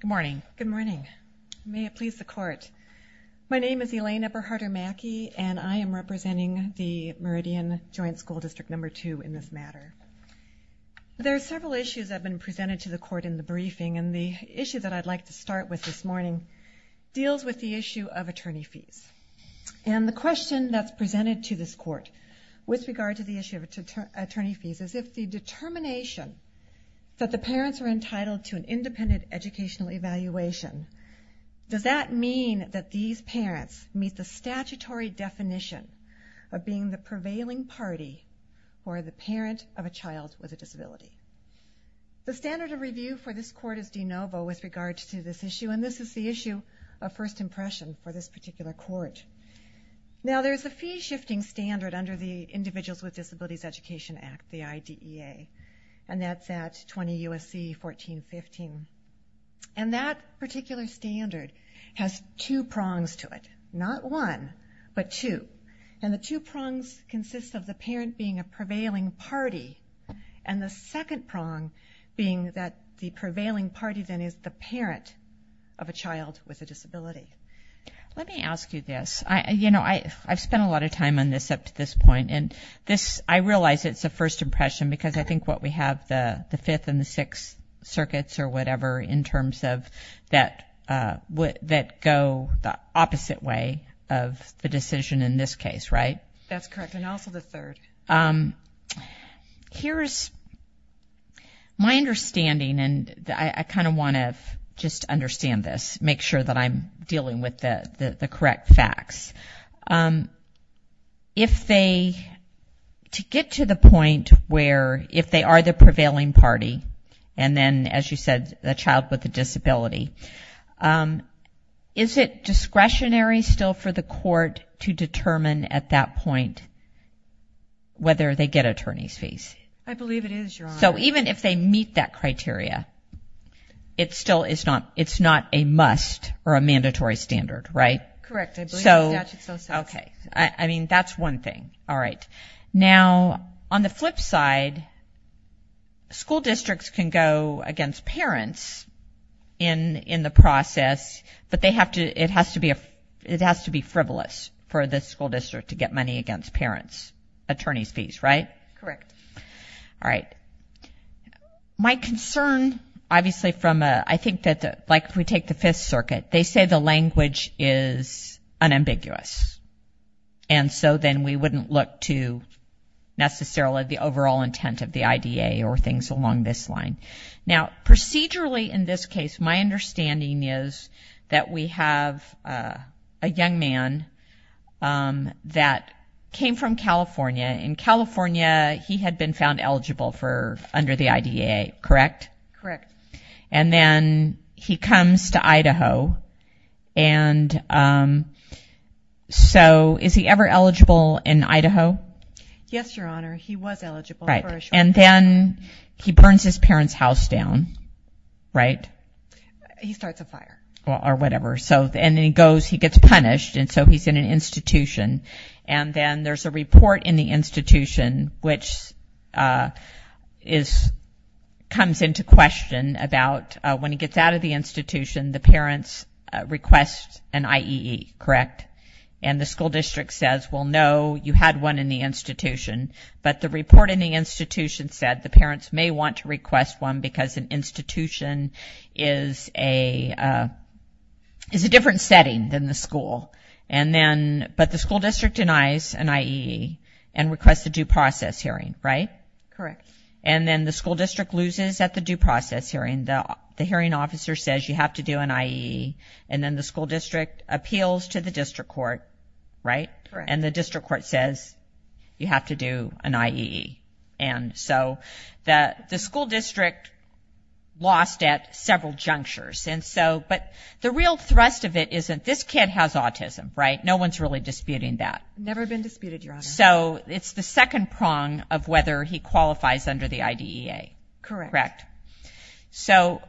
Good morning. Good morning. May it please the Court. My name is Elaine Eberhardt-Ermacki and I am representing the Meridian Joint School District No. 2 in this matter. There are several issues that have been presented to the Court in the briefing and the issue that I'd like to start with this morning deals with the issue of attorney fees. And the question that's the parents are entitled to an independent educational evaluation. Does that mean that these parents meet the statutory definition of being the prevailing party for the parent of a child with a disability? The standard of review for this Court is de novo with regard to this issue and this is the issue of first impression for this particular Court. Now there's a fee shifting standard under the Individuals with Disabilities Education Act, the IDEA, and that's at 20 U.S.C. 1415. And that particular standard has two prongs to it, not one, but two. And the two prongs consist of the parent being a prevailing party and the second prong being that the prevailing party then is the parent of a child with a disability. Let me ask you this. You know, I've spent a lot of time on this up to this point and this, I realize it's a first impression because I think what we have, the fifth and the sixth circuits or whatever in terms of that, that go the opposite way of the decision in this case, right? That's correct and also the third. Here's my understanding and I kind of want to just understand this, make sure that I'm dealing with the correct facts. If they, to get to the point where if they are the prevailing party and then, as you said, a child with a disability, is it discretionary still for the court to determine at that point whether they get attorney's fees? I believe it is, Your Honor. So even if they meet that criteria, it still is not, it's not a must or a mandatory standard, right? Correct. I mean, that's one thing. All right. Now, on the flip side, school districts can go against parents in the process, but they have to, it has to be frivolous for the school district to get money against parents, attorney's fees, right? Correct. All right. My concern, obviously from a, I think that, like if we take the Fifth Circuit, they say the language is unambiguous and so then we wouldn't look to necessarily the overall intent of the IDA or things along this line. Now, procedurally in this case, my understanding is that we have a young man that came from California. In California, he had been found eligible for, under the school district, and then he comes to Idaho, and so is he ever eligible in Idaho? Yes, Your Honor, he was eligible. Right. And then he burns his parents' house down, right? He starts a fire. Or whatever. So, and then he goes, he gets punished, and so he's in an institution, and then there's a report in the institution which is, comes into question about when he gets out of the institution, the parents request an IEE, correct? And the school district says, well, no, you had one in the institution, but the report in the institution said the parents may want to request one because an institution is a, is a different setting than the school. And then, but the school district denies an IEE and requests a due process hearing, right? Correct. And then the school district loses at the due process hearing. The hearing officer says you have to do an IEE, and then the school district appeals to the district court, right? Correct. And the district court says you have to do an IEE. And so, the school district lost at several junctures. And so, but the real thrust of it is that this kid has autism, right? No one's really disputing that. Never been disputed, Your Honor. So, it's the second prong of whether he qualifies under the IDEA. Correct. Correct. So,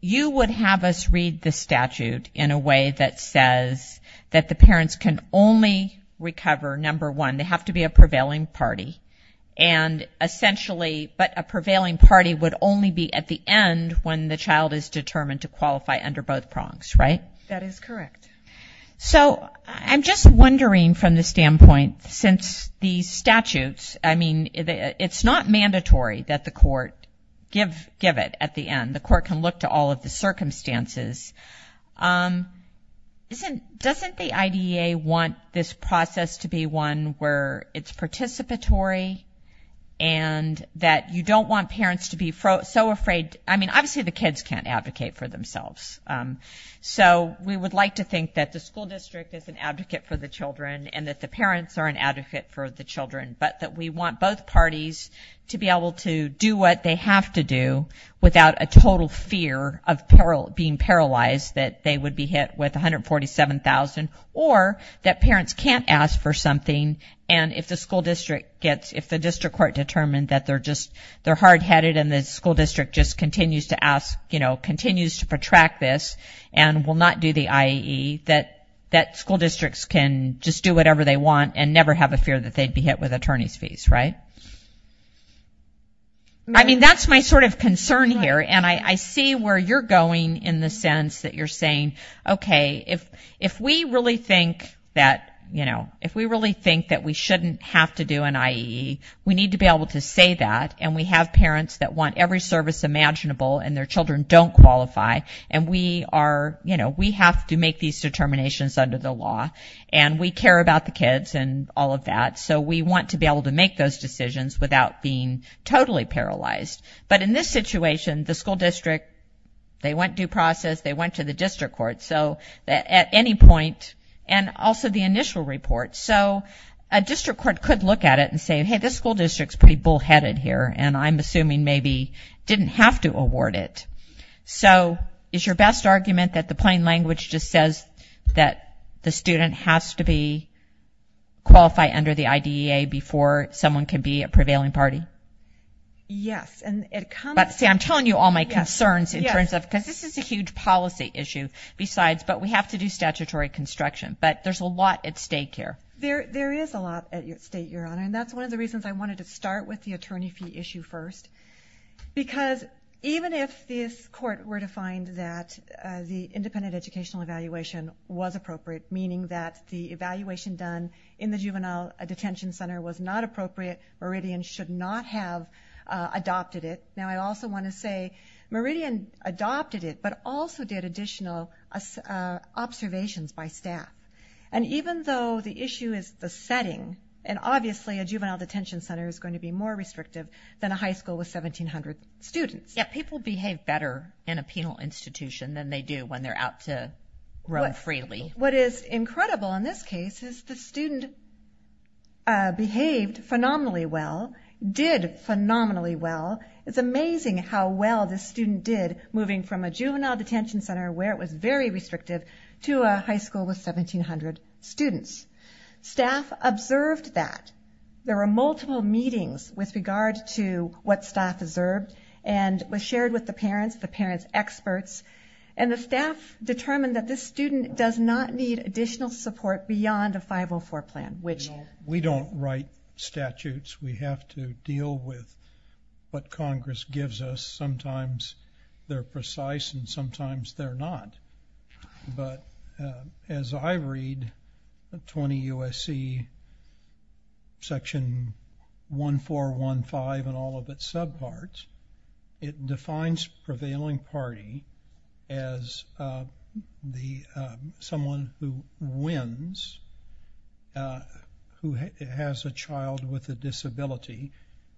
you would have us read the statute in a way that says that the parents can only recover, number one, they have to be a prevailing party. And essentially, but a prevailing party would only be at the end when the child is determined to qualify under both prongs, right? That is correct. So, I'm just wondering from the standpoint, since the statutes, I mean, it's not mandatory that the court give it at the end. The court can look to all of the circumstances. Doesn't the IDEA want this process to be one where it's participatory and that you don't want parents to be so afraid? I mean, obviously, the kids can't advocate for themselves. So, we would like to think that the school district is an advocate for the children and that the parents are an advocate for the children, but that we want both parties to be able to do what they have to do without a total fear of being paralyzed that they would be hit with $147,000 or that parents can't ask for something and if the school district gets, if the district court determined that they're just, they're hard-headed and the school district just continues to ask, you know, continues to protract this and will not do the IAE, that school districts can just do whatever they want and never have a fear that they'd be hit with attorney's fees, right? I mean, that's my sort of concern here, and I see where you're going in the sense that you're saying, okay, if we really think that, you know, if we really think that we shouldn't have to do an IAE, we need to be able to say that, and we have parents that want every service imaginable and their children don't qualify, and we are, you know, we have to make these determinations under the law, and we care about the kids and all of that, so we want to be able to make those decisions without being totally paralyzed, but in this situation, the school district, they went due process, they went to the district court, so at any point, and also the initial report, so a district court could look at it and say, hey, this school district's pretty bullheaded here, and I'm assuming maybe didn't have to award it, so is your best argument that the plain language just says that the student has to be qualified under the IDEA before someone can be a prevailing party? Yes, and it comes... But see, I'm telling you all my concerns in terms of, because this is a huge policy issue besides, but we have to do statutory construction, but there's a lot at stake here. There is a lot at stake, Your Honor, and that's one of the reasons I wanted to start with the attorney fee issue first, because even if this court were to find that the independent educational evaluation was appropriate, meaning that the evaluation done in the juvenile detention center was not appropriate, Meridian should not have adopted it. Now I also want to say Meridian adopted it, but also did additional observations by staff, and even though the issue is the setting, and obviously a juvenile detention center is going to be more restrictive than a high school with 1,700 students. Yeah, people behave better in a penal institution than they do when they're out to roam freely. What is incredible in this case is the student behaved phenomenally well, did phenomenally well. It's amazing how well this student did moving from a juvenile detention center where it was very restrictive to a high school with 1,700 students. Staff observed that. There were multiple meetings with regard to what staff observed and was shared with the parents, the parents' experts, and the staff determined that this student does not need additional support beyond a 504 plan, which... We don't write statutes. We have to deal with what Congress gives us. Sometimes they're different, but as I read 20 U.S.C. section 1415 and all of its subparts, it defines prevailing party as someone who wins, who has a child with a disability,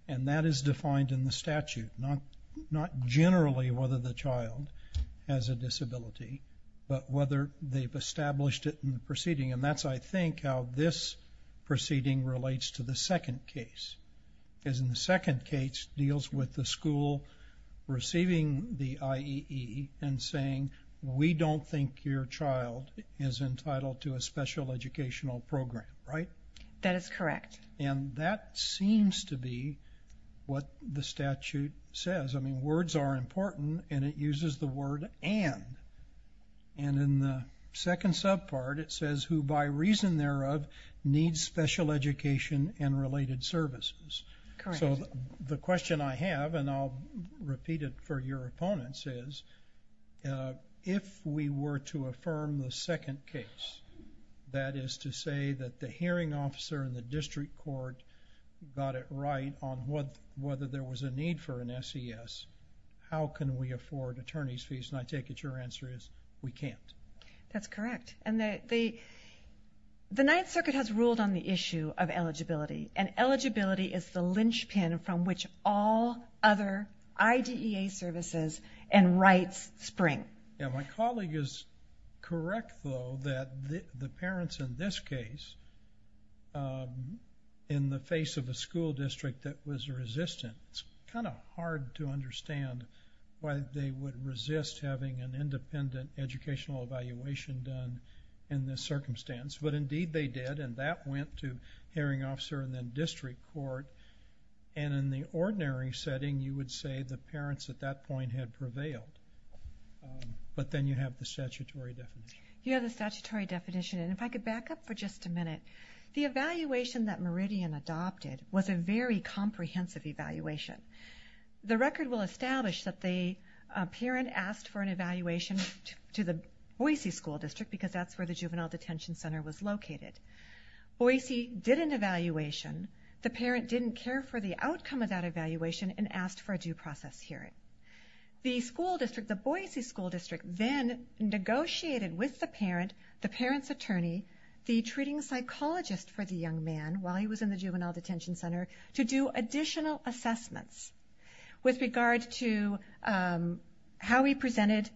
and that is defined in the statute, not generally whether the child has a disability, but whether they've established it in the proceeding, and that's, I think, how this proceeding relates to the second case, is in the second case deals with the school receiving the IEE and saying, we don't think your child is entitled to a special educational program, right? That is correct. And that seems to be what the statute says. I mean, words are important, and it uses the word and, and in the second subpart, it says who by reason thereof needs special education and related services. Correct. So the question I have, and I'll repeat it for your opponents, is if we were to affirm the second case, that is to say that the hearing officer in the district court got it right on what, whether there was a need for an SES, how can we afford attorney's fees? And I take it your answer is, we can't. That's correct. And the, the, the Ninth Circuit has ruled on the issue of eligibility, and eligibility is the linchpin from which all other IDEA services and rights spring. And my colleague is correct, though, that the, the parents in this case, in the face of a school district that was resistant, it's kind of hard to understand why they would resist having an independent educational evaluation done in this circumstance, but indeed they did, and that went to hearing officer and then district court, and in the ordinary setting, you would say the parents at that point had prevailed, but then you have the statutory definition. You have the statutory definition, and if I could back up for just a minute, the evaluation that Meridian adopted was a very comprehensive evaluation. The record will establish that the parent asked for an evaluation to the Boise School District, because that's where the juvenile detention center was located. Boise did an evaluation. The parent didn't care for the outcome of that evaluation and asked for a due process hearing. The school district, the Boise School District, then negotiated with the parent, the parent's attorney, the treating psychologist for the young man while he was in the juvenile detention center, to do additional assessments. With regard to how he presented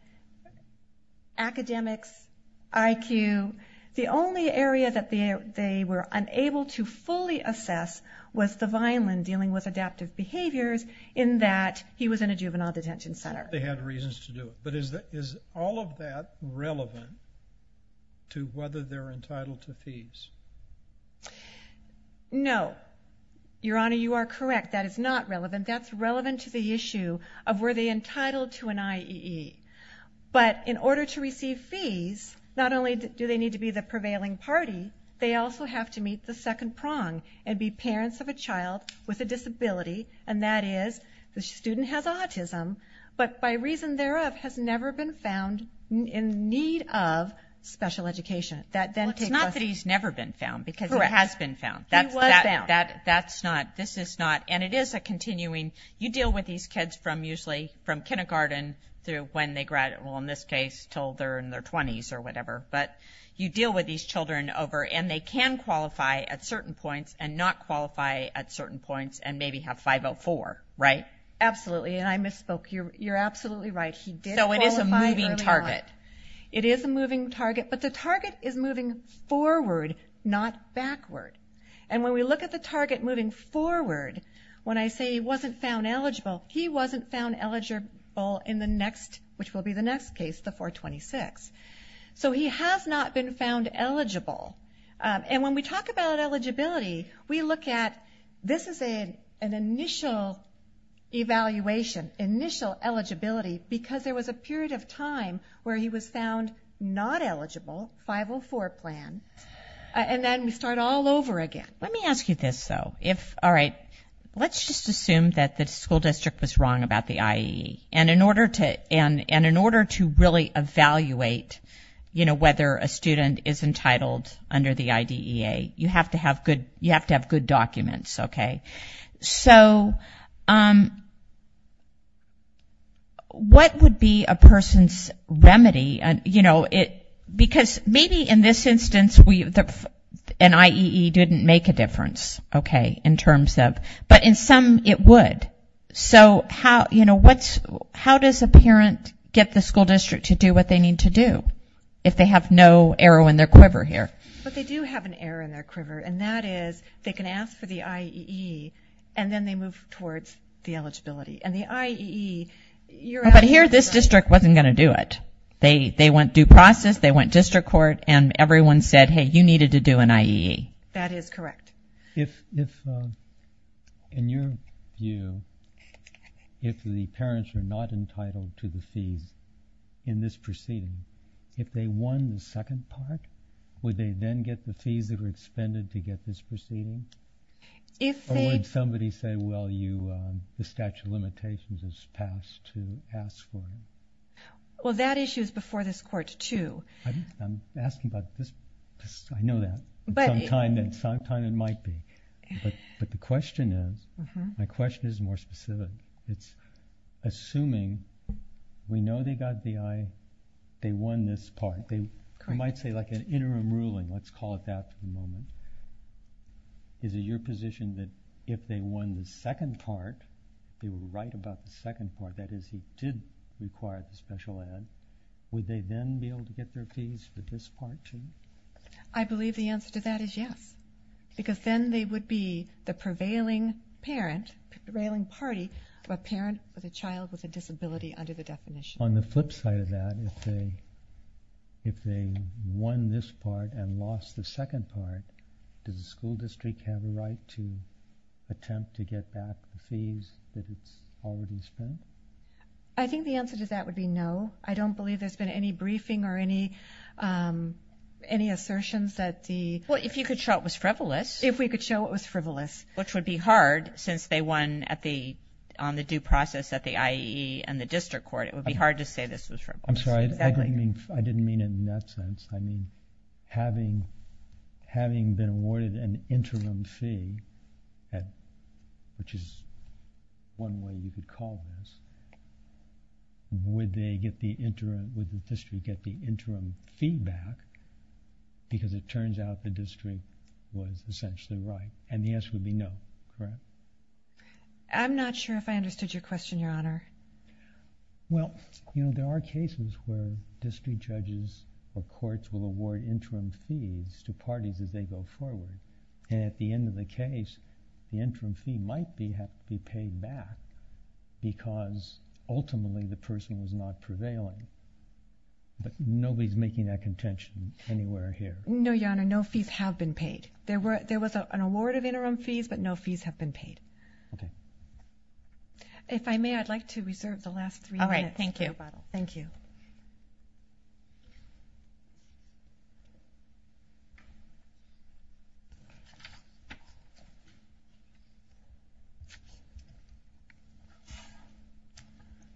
academics, IQ, the only area that they were unable to fully assess was the violence dealing with adaptive behaviors in that he was in a juvenile detention center. They had reasons to do it, but is all of that relevant to whether they're entitled to fees? No. Your Honor, you are correct. That is not relevant. That's relevant to the issue of were they entitled to an IEE, but in order to receive fees, not only do they need to be the prevailing party, they also have to meet the second prong, and be parents of a child with a disability, and that is the student has autism, but by reason thereof, has never been found in need of special education. That then takes us... Well, it's not that he's never been found, because he has been found. Correct. He was found. That's not, this is not, and it is a continuing, you deal with these kids from usually from kindergarten through when they graduate, well in this case, until they're in their twenties or whatever, but you deal with these children over, and they can qualify at certain points, and not qualify at certain points, and maybe have 504, right? Absolutely, and I misspoke. You're absolutely right. He did qualify early on. So it is a moving target. It is a moving target, but the target is moving forward, not backward, and when we look at the target moving forward, when I say he wasn't found eligible, he wasn't found eligible in the next, which will be the next case, the 426. So he has not been found eligible, and when we talk about eligibility, we look at, this is an initial evaluation, initial eligibility, because there was a period of time where he was found not eligible, 504 plan, and then we start all over again. Let me ask you this, though. If, all right, let's just assume that the school district was wrong about the IEE, and in order to really evaluate whether a student is entitled under the IDEA, you have to have good documents, okay? So what would be a person's remedy? Because maybe in this instance, an IEE didn't make a difference, okay, in terms of, but in some, it would. So how, you know, what's, how does a parent get the school district to do what they need to do, if they have no arrow in their quiver here? But they do have an arrow in their quiver, and that is, they can ask for the IEE, and then they move towards the eligibility, and the IEE, you're asking for the IEE. But here, this district wasn't going to do it. They went due process, they went district court, and everyone said, hey, you needed to do an IEE. That is correct. If, in your view, if the parents are not entitled to the fees in this proceeding, if they won the second part, would they then get the fees that are expended to get this proceeding? Or would somebody say, well, you, the statute of limitations is passed to ask for it? Well that issue is before this court, too. I'm asking about this, I know that. But. Sometime, sometime it might be. But the question is, my question is more specific. It's assuming we know they got the I, they won this part. Correct. You might say like an interim ruling, let's call it that for the moment. Is it your position that if they won the second part, if they were right about the second part, that is, if they did require the special ed, would they then be able to get their fees for this part, too? I believe the answer to that is yes. Because then they would be the prevailing parent, prevailing party, of a parent of a child with a disability under the definition. On the flip side of that, if they, if they won this part and lost the second part, does I think the answer to that would be no. I don't believe there's been any briefing or any, any assertions that the. Well, if you could show it was frivolous. If we could show it was frivolous. Which would be hard, since they won at the, on the due process at the IAE and the district court, it would be hard to say this was frivolous. I'm sorry, I didn't mean, I didn't mean it in that sense. I mean, having, having been awarded an interim fee, which is one way you could call this, would they get the interim, would the district get the interim fee back, because it turns out the district was essentially right. And the answer would be no, correct? I'm not sure if I understood your question, Your Honor. Well, you know, there are cases where district judges or courts will award interim fees to a person, and at the end of the case, the interim fee might have to be paid back, because ultimately the person was not prevailing. But nobody's making that contention anywhere here. No, Your Honor, no fees have been paid. There were, there was an award of interim fees, but no fees have been paid. Okay. If I may, I'd like to reserve the last three minutes. All right, thank you. Thank you.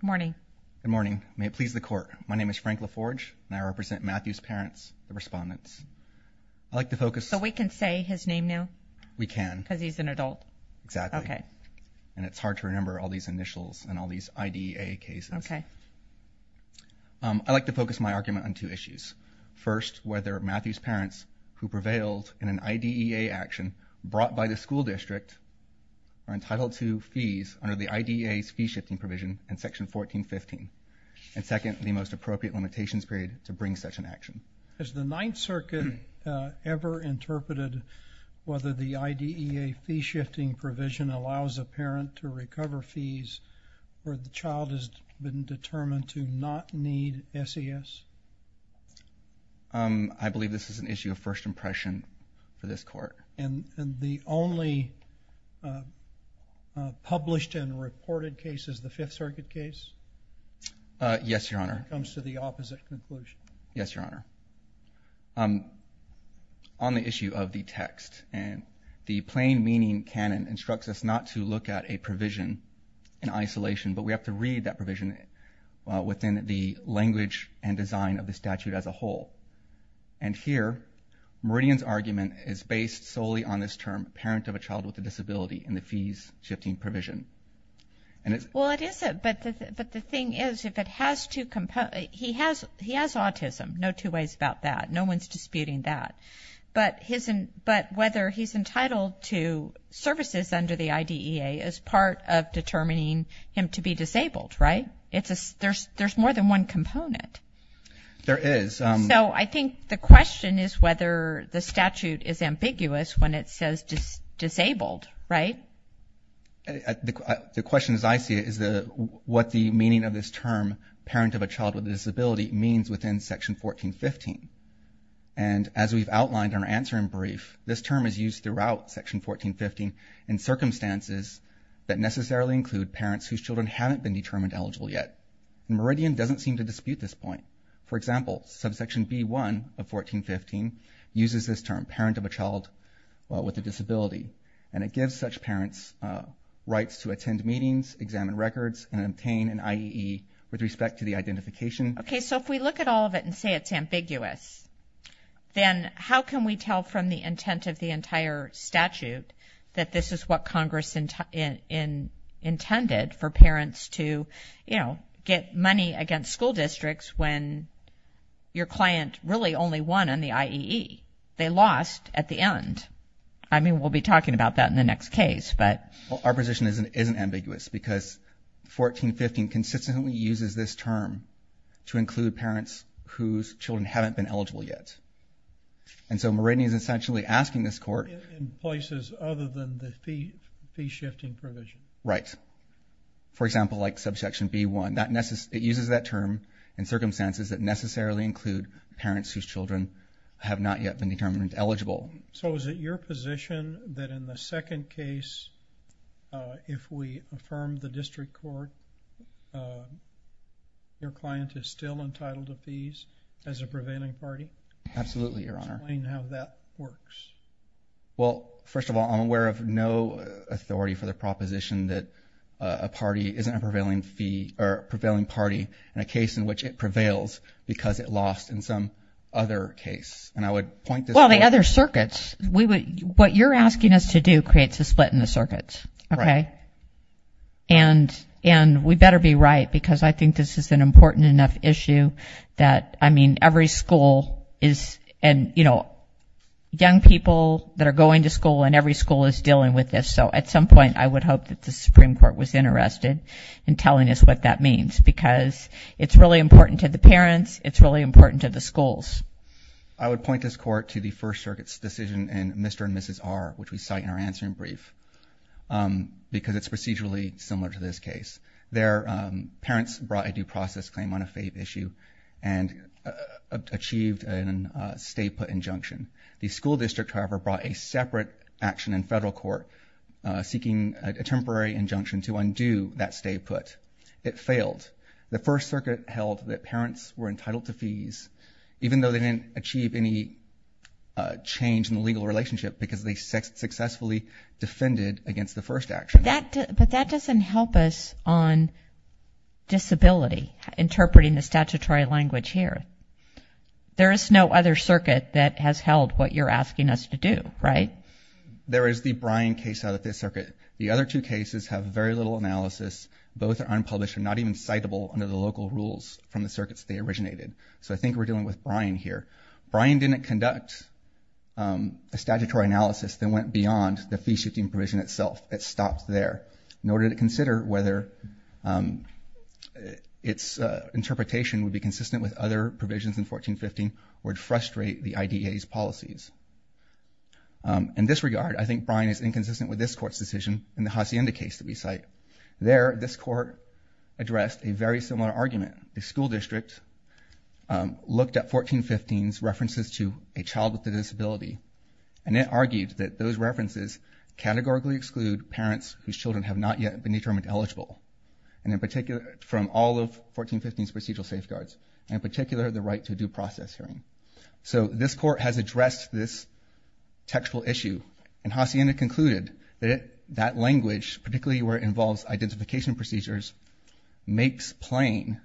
Good morning. Good morning. May it please the Court, my name is Frank LaForge, and I represent Matthew's parents, the respondents. I'd like to focus So we can say his name now? We can. Because he's an adult. Exactly. Okay. And it's hard to remember all these initials and all these IDEA cases. Okay. I'd like to focus my argument on two issues. First, whether Matthew's parents, who prevailed in an IDEA action brought by the school district, are entitled to fees under the IDEA's fee shifting provision in Section 1415. And second, the most appropriate limitations period to bring such an action. Has the Ninth Circuit ever interpreted whether the IDEA fee shifting provision allows a parent to recover fees where the child has been determined to not need SES? I believe this is an issue of first impression for this Court. And the only published and reported case is the Fifth Circuit case? Yes, Your Honor. It comes to the opposite conclusion. Yes, Your Honor. On the issue of the text, the plain meaning canon instructs us not to look at a provision in isolation, but we have to read that provision within the language and design of the statute as a whole. And here, Meridian's argument is based solely on this term, parent of a child with a disability, in the fees shifting provision. Well, it is, but the thing is, if it has to, he has autism, no two ways about that. No one's disputing that. But whether he's entitled to services under the IDEA is part of determining him to be disabled, right? There's more than one component. There is. So I think the question is whether the statute is ambiguous when it says disabled, right? The question, as I see it, is what the meaning of this term, parent of a child with a disability, means within Section 1415. And as we've outlined in our answer in brief, this term is used throughout Section 1415 in circumstances that necessarily include parents whose children haven't been determined eligible yet. Meridian doesn't seem to dispute this point. For example, subsection B1 of 1415 uses this term, parent of a child with a disability, and it gives such parents rights to attend meetings, examine records, and obtain an IEE with respect to the identification. Okay, so if we look at all of it and say it's ambiguous, then how can we tell from the intent of the entire statute that this is what Congress intended for parents to, you know, get money against school districts when your client really only won on the IEE? They lost at the end. I mean, we'll be talking about that in the next case, but... Well, our position isn't ambiguous because 1415 consistently uses this term to include parents whose children haven't been eligible yet. And so Meridian is essentially asking this court... In places other than the fee-shifting provision. Right. For example, like subsection B1. It uses that term in circumstances that necessarily include parents whose children have not yet been determined eligible. So is it your position that in the second case, if we affirm the district court, your client is still entitled to fees as a prevailing party? Absolutely, Your Honor. Explain how that works. Well, first of all, I'm aware of no authority for the proposition that a party isn't a prevailing fee or prevailing party in a case in which it prevails because it lost in some other case. And I would point this... Well, the other circuits, what you're asking us to do creates a split in the circuits. Right. And we better be right because I think this is an important enough issue that, I mean, every school is, and, you know, young people that are going to school and every school is dealing with this. So at some point I would hope that the Supreme Court was interested in telling us what that means because it's really important to the parents. It's really important to the schools. I would point this court to the First Circuit's decision in Mr. and Mrs. R, which we cite in our answering brief because it's procedurally similar to this case. Their parents brought a due process claim on a FAPE issue and achieved a stay put injunction. The school district, however, brought a separate action in federal court seeking a temporary injunction to undo that stay put. It failed. The First Circuit held that parents were entitled to fees even though they didn't achieve any change in the legal relationship because they successfully defended against the first action. But that doesn't help us on disability, interpreting the statutory language here. There is no other circuit that has held what you're asking us to do, right? There is the Bryan case out of this circuit. The other two cases have very little analysis. Both are unpublished and not even citable under the local rules from the circuits they originated. So I think we're dealing with Bryan here. Bryan didn't conduct a statutory analysis that went beyond the fee-shifting provision itself. It stopped there. In order to consider whether its interpretation would be consistent with other provisions in 1415 would frustrate the IDA's policies. In this regard, I think Bryan is inconsistent with this court's decision in the Hacienda case that we cite. There, this court addressed a very similar argument. A school district looked at 1415's references to a child with a disability and it argued that those references categorically exclude parents whose children have not yet been determined eligible from all of 1415's procedural safeguards, in particular the right to a due process hearing. So this court has addressed this textual issue, and Hacienda concluded that that language, particularly where it involves identification procedures, makes plain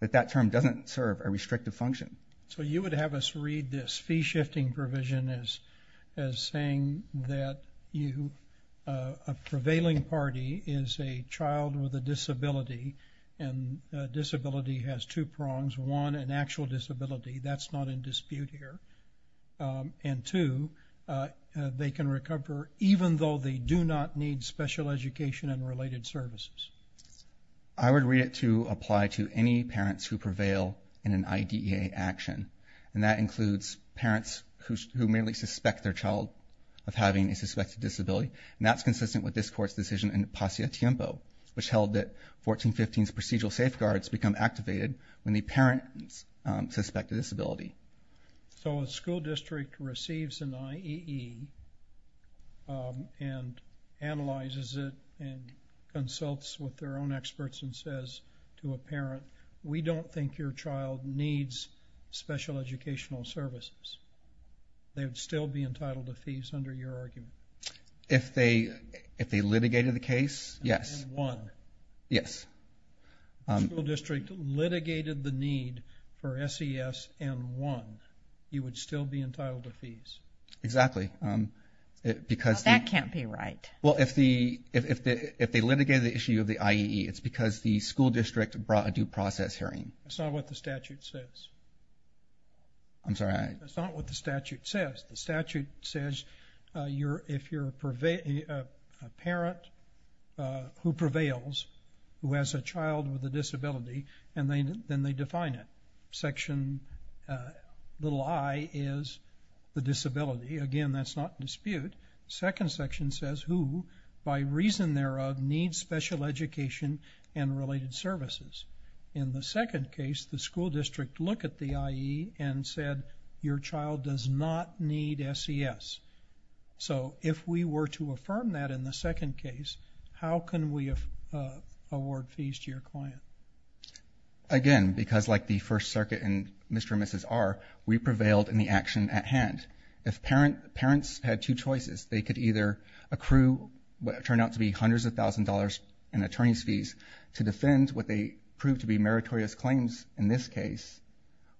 that that term doesn't serve a restrictive function. So you would have us read this fee-shifting provision as saying that a prevailing party is a child with a disability and a disability has two prongs. One, an actual disability. That's not in dispute here. And two, they can recover even though they do not need special education and related services. I would read it to apply to any parents who prevail in an IDA action, and that includes parents who merely suspect their child of having a suspected disability, and that's consistent with this court's decision in the Paseo Tiempo, which held that 1415's procedural safeguards become activated when the parents suspect a disability. So a school district receives an IEE and analyzes it and consults with their own experts and says to a parent, we don't think your child needs special educational services. They would still be entitled to fees under your argument. If they litigated the case, yes. And won. Yes. If a school district litigated the need for SES and won, you would still be entitled to fees. Exactly. That can't be right. Well, if they litigated the issue of the IEE, it's because the school district brought a due process hearing. That's not what the statute says. I'm sorry? That's not what the statute says. The statute says if you're a parent who prevails, who has a child with a disability, then they define it. Section little I is the disability. Again, that's not in dispute. Second section says who, by reason thereof, needs special education and related services. In the second case, the school district looked at the IEE and said, your child does not need SES. So if we were to affirm that in the second case, how can we award fees to your client? Again, because like the First Circuit and Mr. and Mrs. R, we prevailed in the action at hand. If parents had two choices, they could either accrue what turned out to be hundreds of thousand dollars in attorney's fees to defend what they proved to be meritorious claims in this case,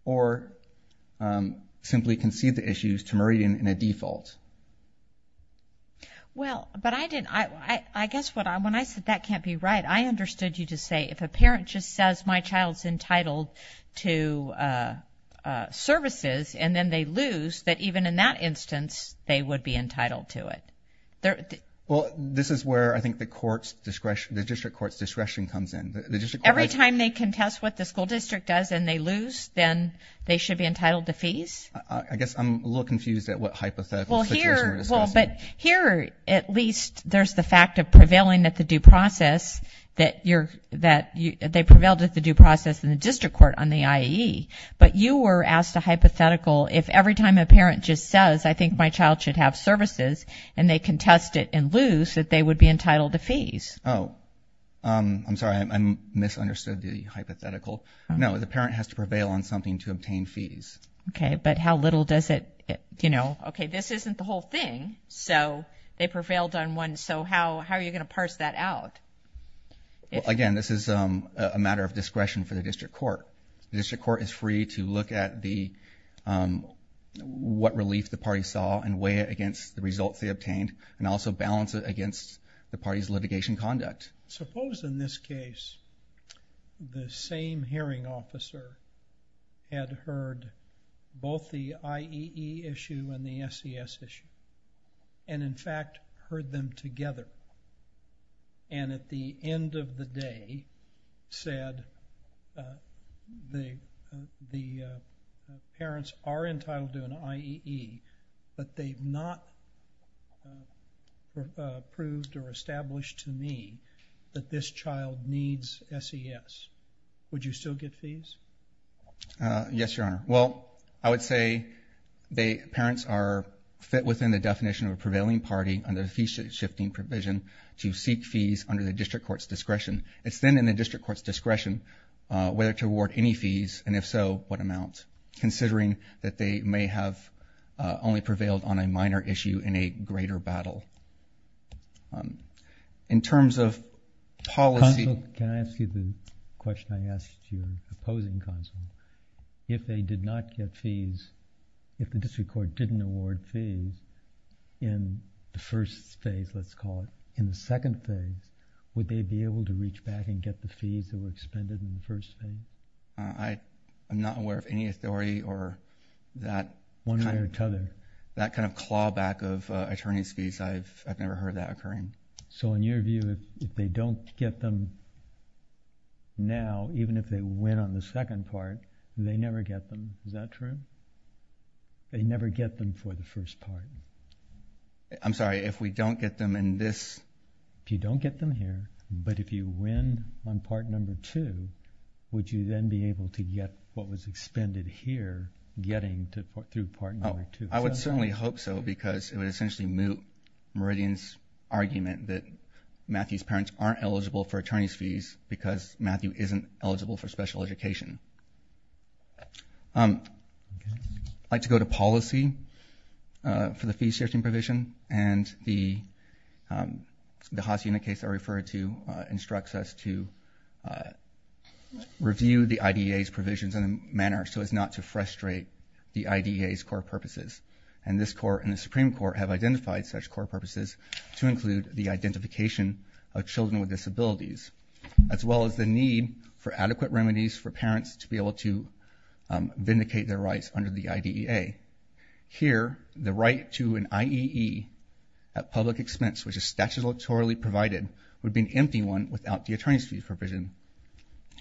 or simply concede the issues to Murray in a default. Well, but I didn't, I, I guess what I, when I said that can't be right, I understood you to say if a parent just says my child's entitled to services and then they lose that even in that instance, they would be entitled to it. Well, this is where I think the court's discretion, the district court's discretion comes in. Every time they contest what the school district does and they lose, then they should be entitled to fees. I guess I'm a little confused at what hypothetical here, but here at least there's the fact of prevailing at the due process that you're, that you, they prevailed at the due process in the district court on the IE, but you were asked a hypothetical. If every time a parent just says, I think my child should have services and they can test it and lose that they would be entitled to fees. Oh, I'm sorry. I misunderstood the hypothetical. No, the parent has to prevail on something to obtain fees. Okay. But how little does it, you know, okay, this isn't the whole thing. So they prevailed on one. So how, how are you going to parse that out? Again, this is a matter of discretion for the district court. The district court is free to look at the, what relief the party saw and weigh it against the results they obtained and also balance it against the party's litigation conduct. Suppose in this case, the same hearing officer had heard both the IE issue and the SES issue. And in fact, heard them together. And at the end of the day said the, the parents are entitled to an IE, but they've not approved or established to me that this child needs SES. Would you still get fees? Yes, Your Honor. Well, I would say they, parents are fit within the definition of a prevailing party under the fee-shifting provision to seek fees under the district court's discretion. It's then in the district court's discretion whether to award any fees. And if so, what amount, considering that they may have only prevailed on a minor issue in a greater battle. In terms of policy... Counsel, can I ask you the question I asked you, opposing counsel? If they did not get fees, if the district court didn't award fees in the first phase, let's call it, in the second phase, would they be able to reach back and get the fees that were expended in the first phase? I'm not aware of any authority or that... One way or the other. That kind of clawback of attorney's fees, I've never heard that occurring. So in your view, if they don't get them now, even if they win on the second part, they never get them. Is that true? They never get them for the first part. I'm sorry, if we don't get them in this... If you don't get them here, but if you win on part number two, would you then be able to get what was expended here, getting through part number two? I would certainly hope so, because it would essentially moot Meridian's argument that Matthew's parents aren't eligible for attorney's fees because Matthew isn't eligible for special education. I'd like to go to policy for the fee-shifting provision, and the Haas-Unik case I referred to instructs us to review the IDEA's provisions in a manner so as not to frustrate the IDEA's core purposes. And this Court and the Supreme Court have identified such core purposes to include the identification of children with disabilities, as well as the need for adequate remedies for parents to be able to vindicate their rights under the IDEA. Here, the right to an IEE at public expense, which is statutorily provided, would be an empty one without the attorney's fee provision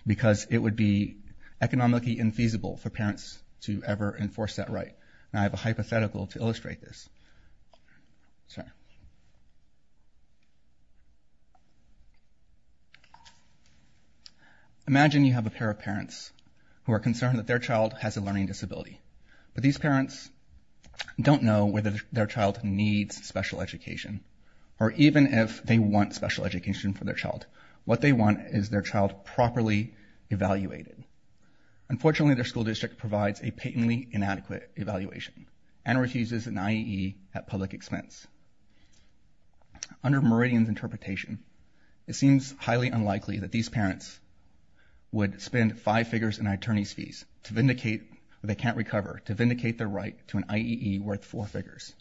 because it would be economically infeasible for parents to ever enforce that right. And I have a hypothetical to illustrate this. Imagine you have a pair of parents who are concerned that their child has a learning disability. But these parents don't know whether their child needs special education, or even if they want special education for their child. What they want is their child properly evaluated. Unfortunately, their school district provides a patently inadequate evaluation and refuses an IEE at public expense. Under Meridian's interpretation, it seems highly unlikely that these parents would spend five figures in an attorney's fees to vindicate that they can't recover, to vindicate their right to an IEE worth four figures.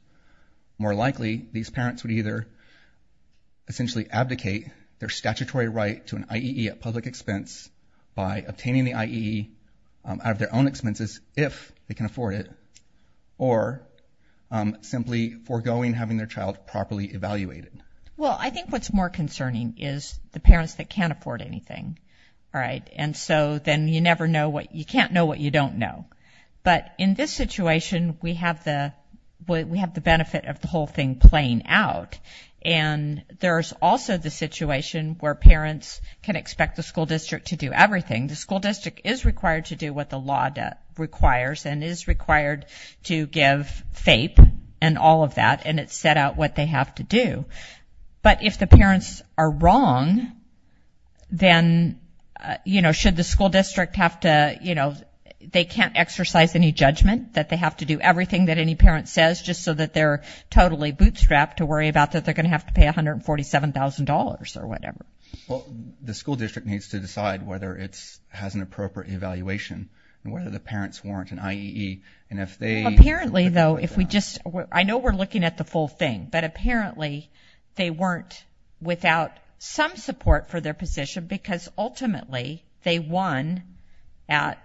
More likely, these parents would either essentially abdicate their statutory right to an IEE at public expense by obtaining the IEE out of their own expenses if they can afford it, or simply foregoing having their child properly evaluated. Well, I think what's more concerning is the parents that can't afford anything, all right? And so then you can't know what you don't know. But in this situation, we have the benefit of the whole thing playing out. And there's also the situation where parents can expect the school district to do everything. The school district is required to do what the law requires and is required to give FAPE and all of that, and it's set out what they have to do. But if the parents are wrong, then, you know, should the school district have to, you know, they can't exercise any judgment that they have to do everything that any parent says just so that they're totally bootstrapped to worry about that they're going to have to pay $147,000 or whatever. Well, the school district needs to decide whether it has an appropriate evaluation and whether the parents warrant an IEE. Apparently, though, if we just – I know we're looking at the full thing, but apparently they weren't without some support for their position because ultimately they won when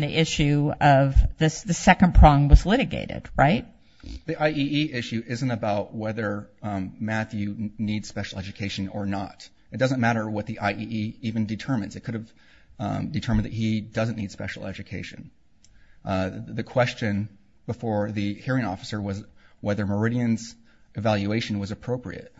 the issue of the second prong was litigated, right? The IEE issue isn't about whether Matthew needs special education or not. It doesn't matter what the IEE even determines. It could have determined that he doesn't need special education. The question before the hearing officer was whether Meridian's evaluation was appropriate.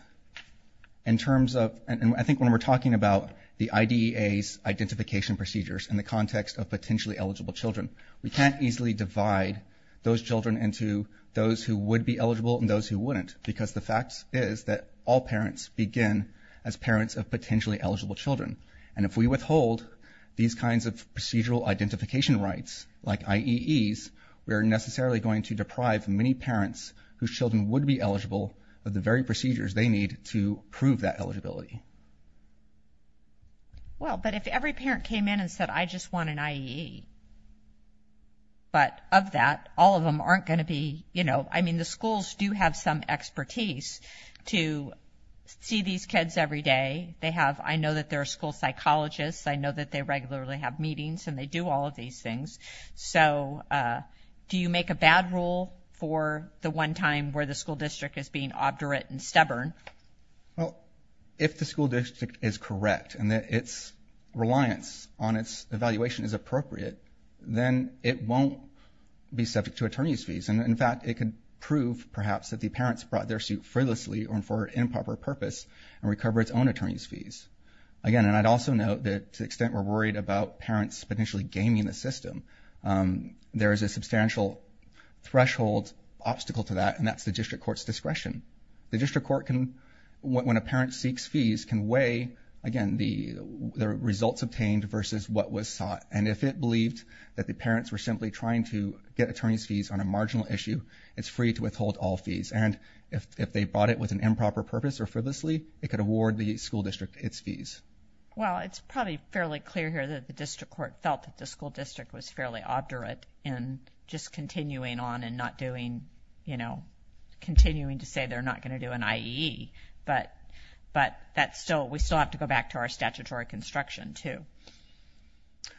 In terms of – and I think when we're talking about the IDEA's identification procedures in the context of potentially eligible children, we can't easily divide those children into those who would be eligible and those who wouldn't because the fact is that all parents begin as parents of potentially eligible children. And if we withhold these kinds of procedural identification rights like IEEs, we are necessarily going to deprive many parents whose children would be eligible of the very procedures they need to prove that eligibility. Well, but if every parent came in and said, I just want an IEE, but of that, all of them aren't going to be – you know, I mean, the schools do have some expertise to see these kids every day. They have – I know that there are school psychologists. I know that they regularly have meetings and they do all of these things. So do you make a bad rule for the one time where the school district is being obdurate and stubborn? Well, if the school district is correct and its reliance on its evaluation is appropriate, then it won't be subject to attorney's fees. And, in fact, it could prove perhaps that the parents brought their suit frivolously or for improper purpose and recover its own attorney's fees. Again, and I'd also note that to the extent we're worried about parents potentially gaming the system, there is a substantial threshold obstacle to that, and that's the district court's discretion. The district court can – when a parent seeks fees, can weigh, again, the results obtained versus what was sought. And if it believed that the parents were simply trying to get attorney's fees on a marginal issue, it's free to withhold all fees. And if they brought it with an improper purpose or frivolously, it could award the school district its fees. Well, it's probably fairly clear here that the district court felt that the school district was fairly obdurate in just continuing on and not doing – continuing to say they're not going to do an IEE. But that's still – we still have to go back to our statutory construction, too.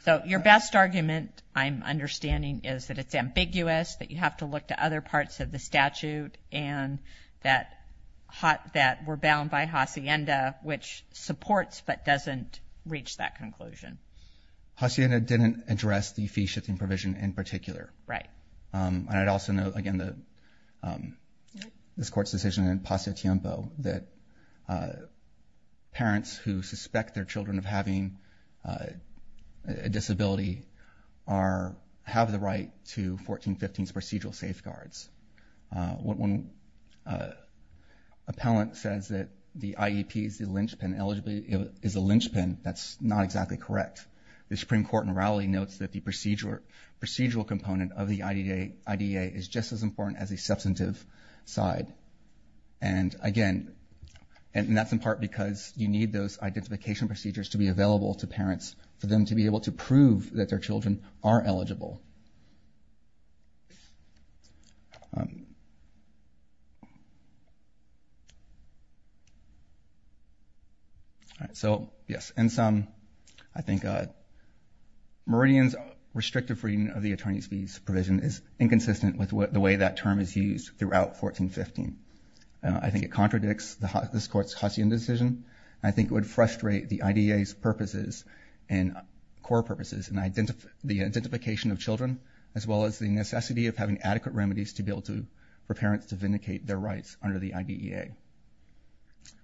So your best argument, I'm understanding, is that it's ambiguous, that you have to look to other parts of the statute, and that we're bound by Hacienda, which supports but doesn't reach that conclusion. Hacienda didn't address the fee-shifting provision in particular. Right. And I'd also note, again, this court's decision in Pase Tiempo that parents who suspect their children of having a disability have the right to 1415's procedural safeguards. When an appellant says that the IEP is a lynchpin, that's not exactly correct. The Supreme Court in Rowley notes that the procedural component of the IDEA is just as important as the substantive side. And, again – and that's in part because you need those identification procedures to be available to parents for them to be able to prove that their children are eligible. So, yes, in sum, I think Meridian's restrictive reading of the attorney's fees provision is inconsistent with the way that term is used throughout 1415. I think it contradicts this court's Hacienda decision. I think it would frustrate the IDEA's purposes and core purposes and the identification of children as well as the necessity of having adequate remedies to be able for parents to vindicate their rights under the IDEA.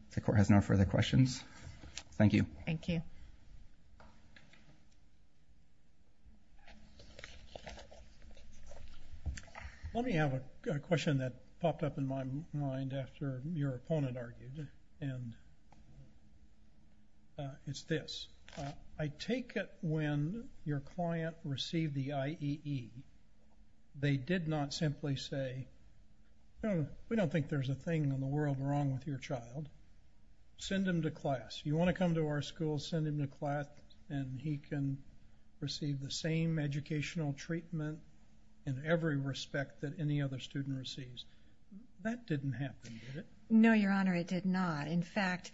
If the court has no further questions, thank you. Thank you. Let me have a question that popped up in my mind after your opponent argued, and it's this. I take it when your client received the IEE, they did not simply say, we don't think there's a thing in the world wrong with your child. Send him to class. You want to come to our school, send him to class, and he can receive the same educational treatment in every respect that any other student receives. That didn't happen, did it? No, Your Honor, it did not. In fact,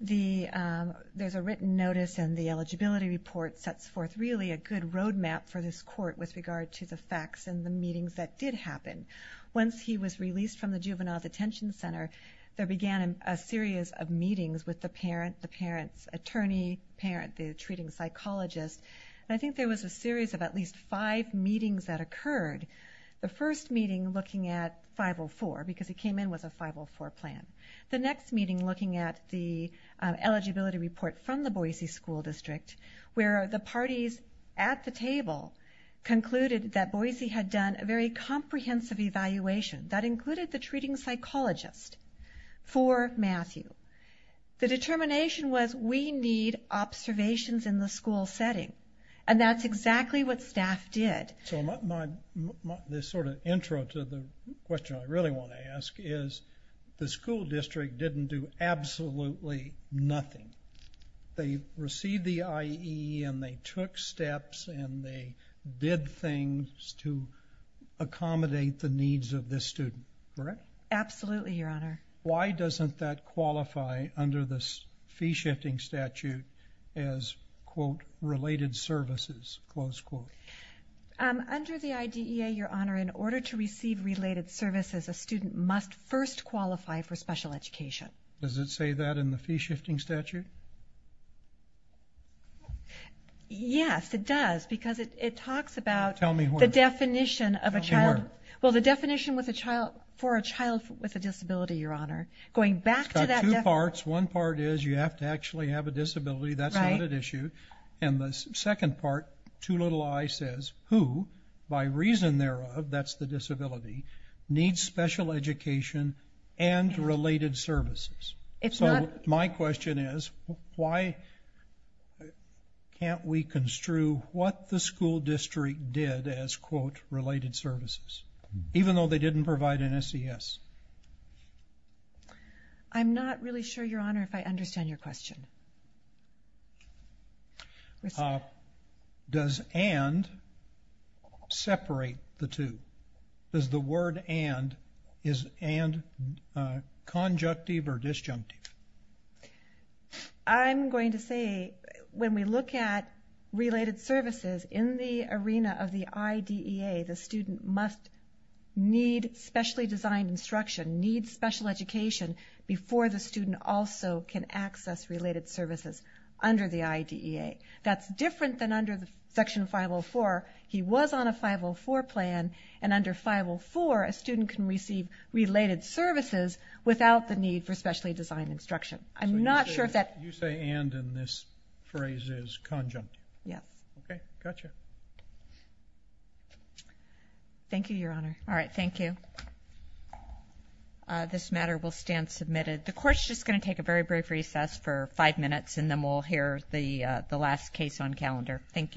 there's a written notice, and the eligibility report sets forth really a good roadmap for this court with regard to the facts and the meetings that did happen. Once he was released from the juvenile detention center, there began a series of meetings with the parent, the parent's attorney, parent, the treating psychologist, and I think there was a series of at least five meetings that occurred. The first meeting looking at 504, because he came in with a 504 plan. The next meeting looking at the eligibility report from the Boise School District, where the parties at the table concluded that Boise had done a very comprehensive evaluation. That included the treating psychologist for Matthew. The determination was, we need observations in the school setting, and that's exactly what staff did. So this sort of intro to the question I really want to ask is, the school district didn't do absolutely nothing. They received the IE, and they took steps, and they did things to accommodate the needs of this student, correct? Absolutely, Your Honor. Why doesn't that qualify under this fee-shifting statute as, quote, related services, close quote? Under the IDEA, Your Honor, in order to receive related services, a student must first qualify for special education. Does it say that in the fee-shifting statute? Yes, it does, because it talks about the definition of a child. Tell me where. Well, the definition for a child with a disability, Your Honor. Going back to that definition. It's got two parts. One part is you have to actually have a disability. That's not an issue. And the second part, too little I says who, by reason thereof, that's the disability, needs special education and related services. So my question is, why can't we construe what the school district did as, quote, related services, even though they didn't provide an SES? I'm not really sure, Your Honor, if I understand your question. Does and separate the two? Does the word and, is and conjunctive or disjunctive? I'm going to say when we look at related services, in the arena of the IDEA, the student must need specially designed instruction, need special education, before the student also can access related services under the IDEA. That's different than under Section 504. He was on a 504 plan, and under 504 a student can receive related services without the need for specially designed instruction. I'm not sure if that. You say and, and this phrase is conjunctive. Yeah. Okay, gotcha. Thank you, Your Honor. All right, thank you. This matter will stand submitted. The Court's just going to take a very brief recess for five minutes, and then we'll hear the last case on calendar. Thank you.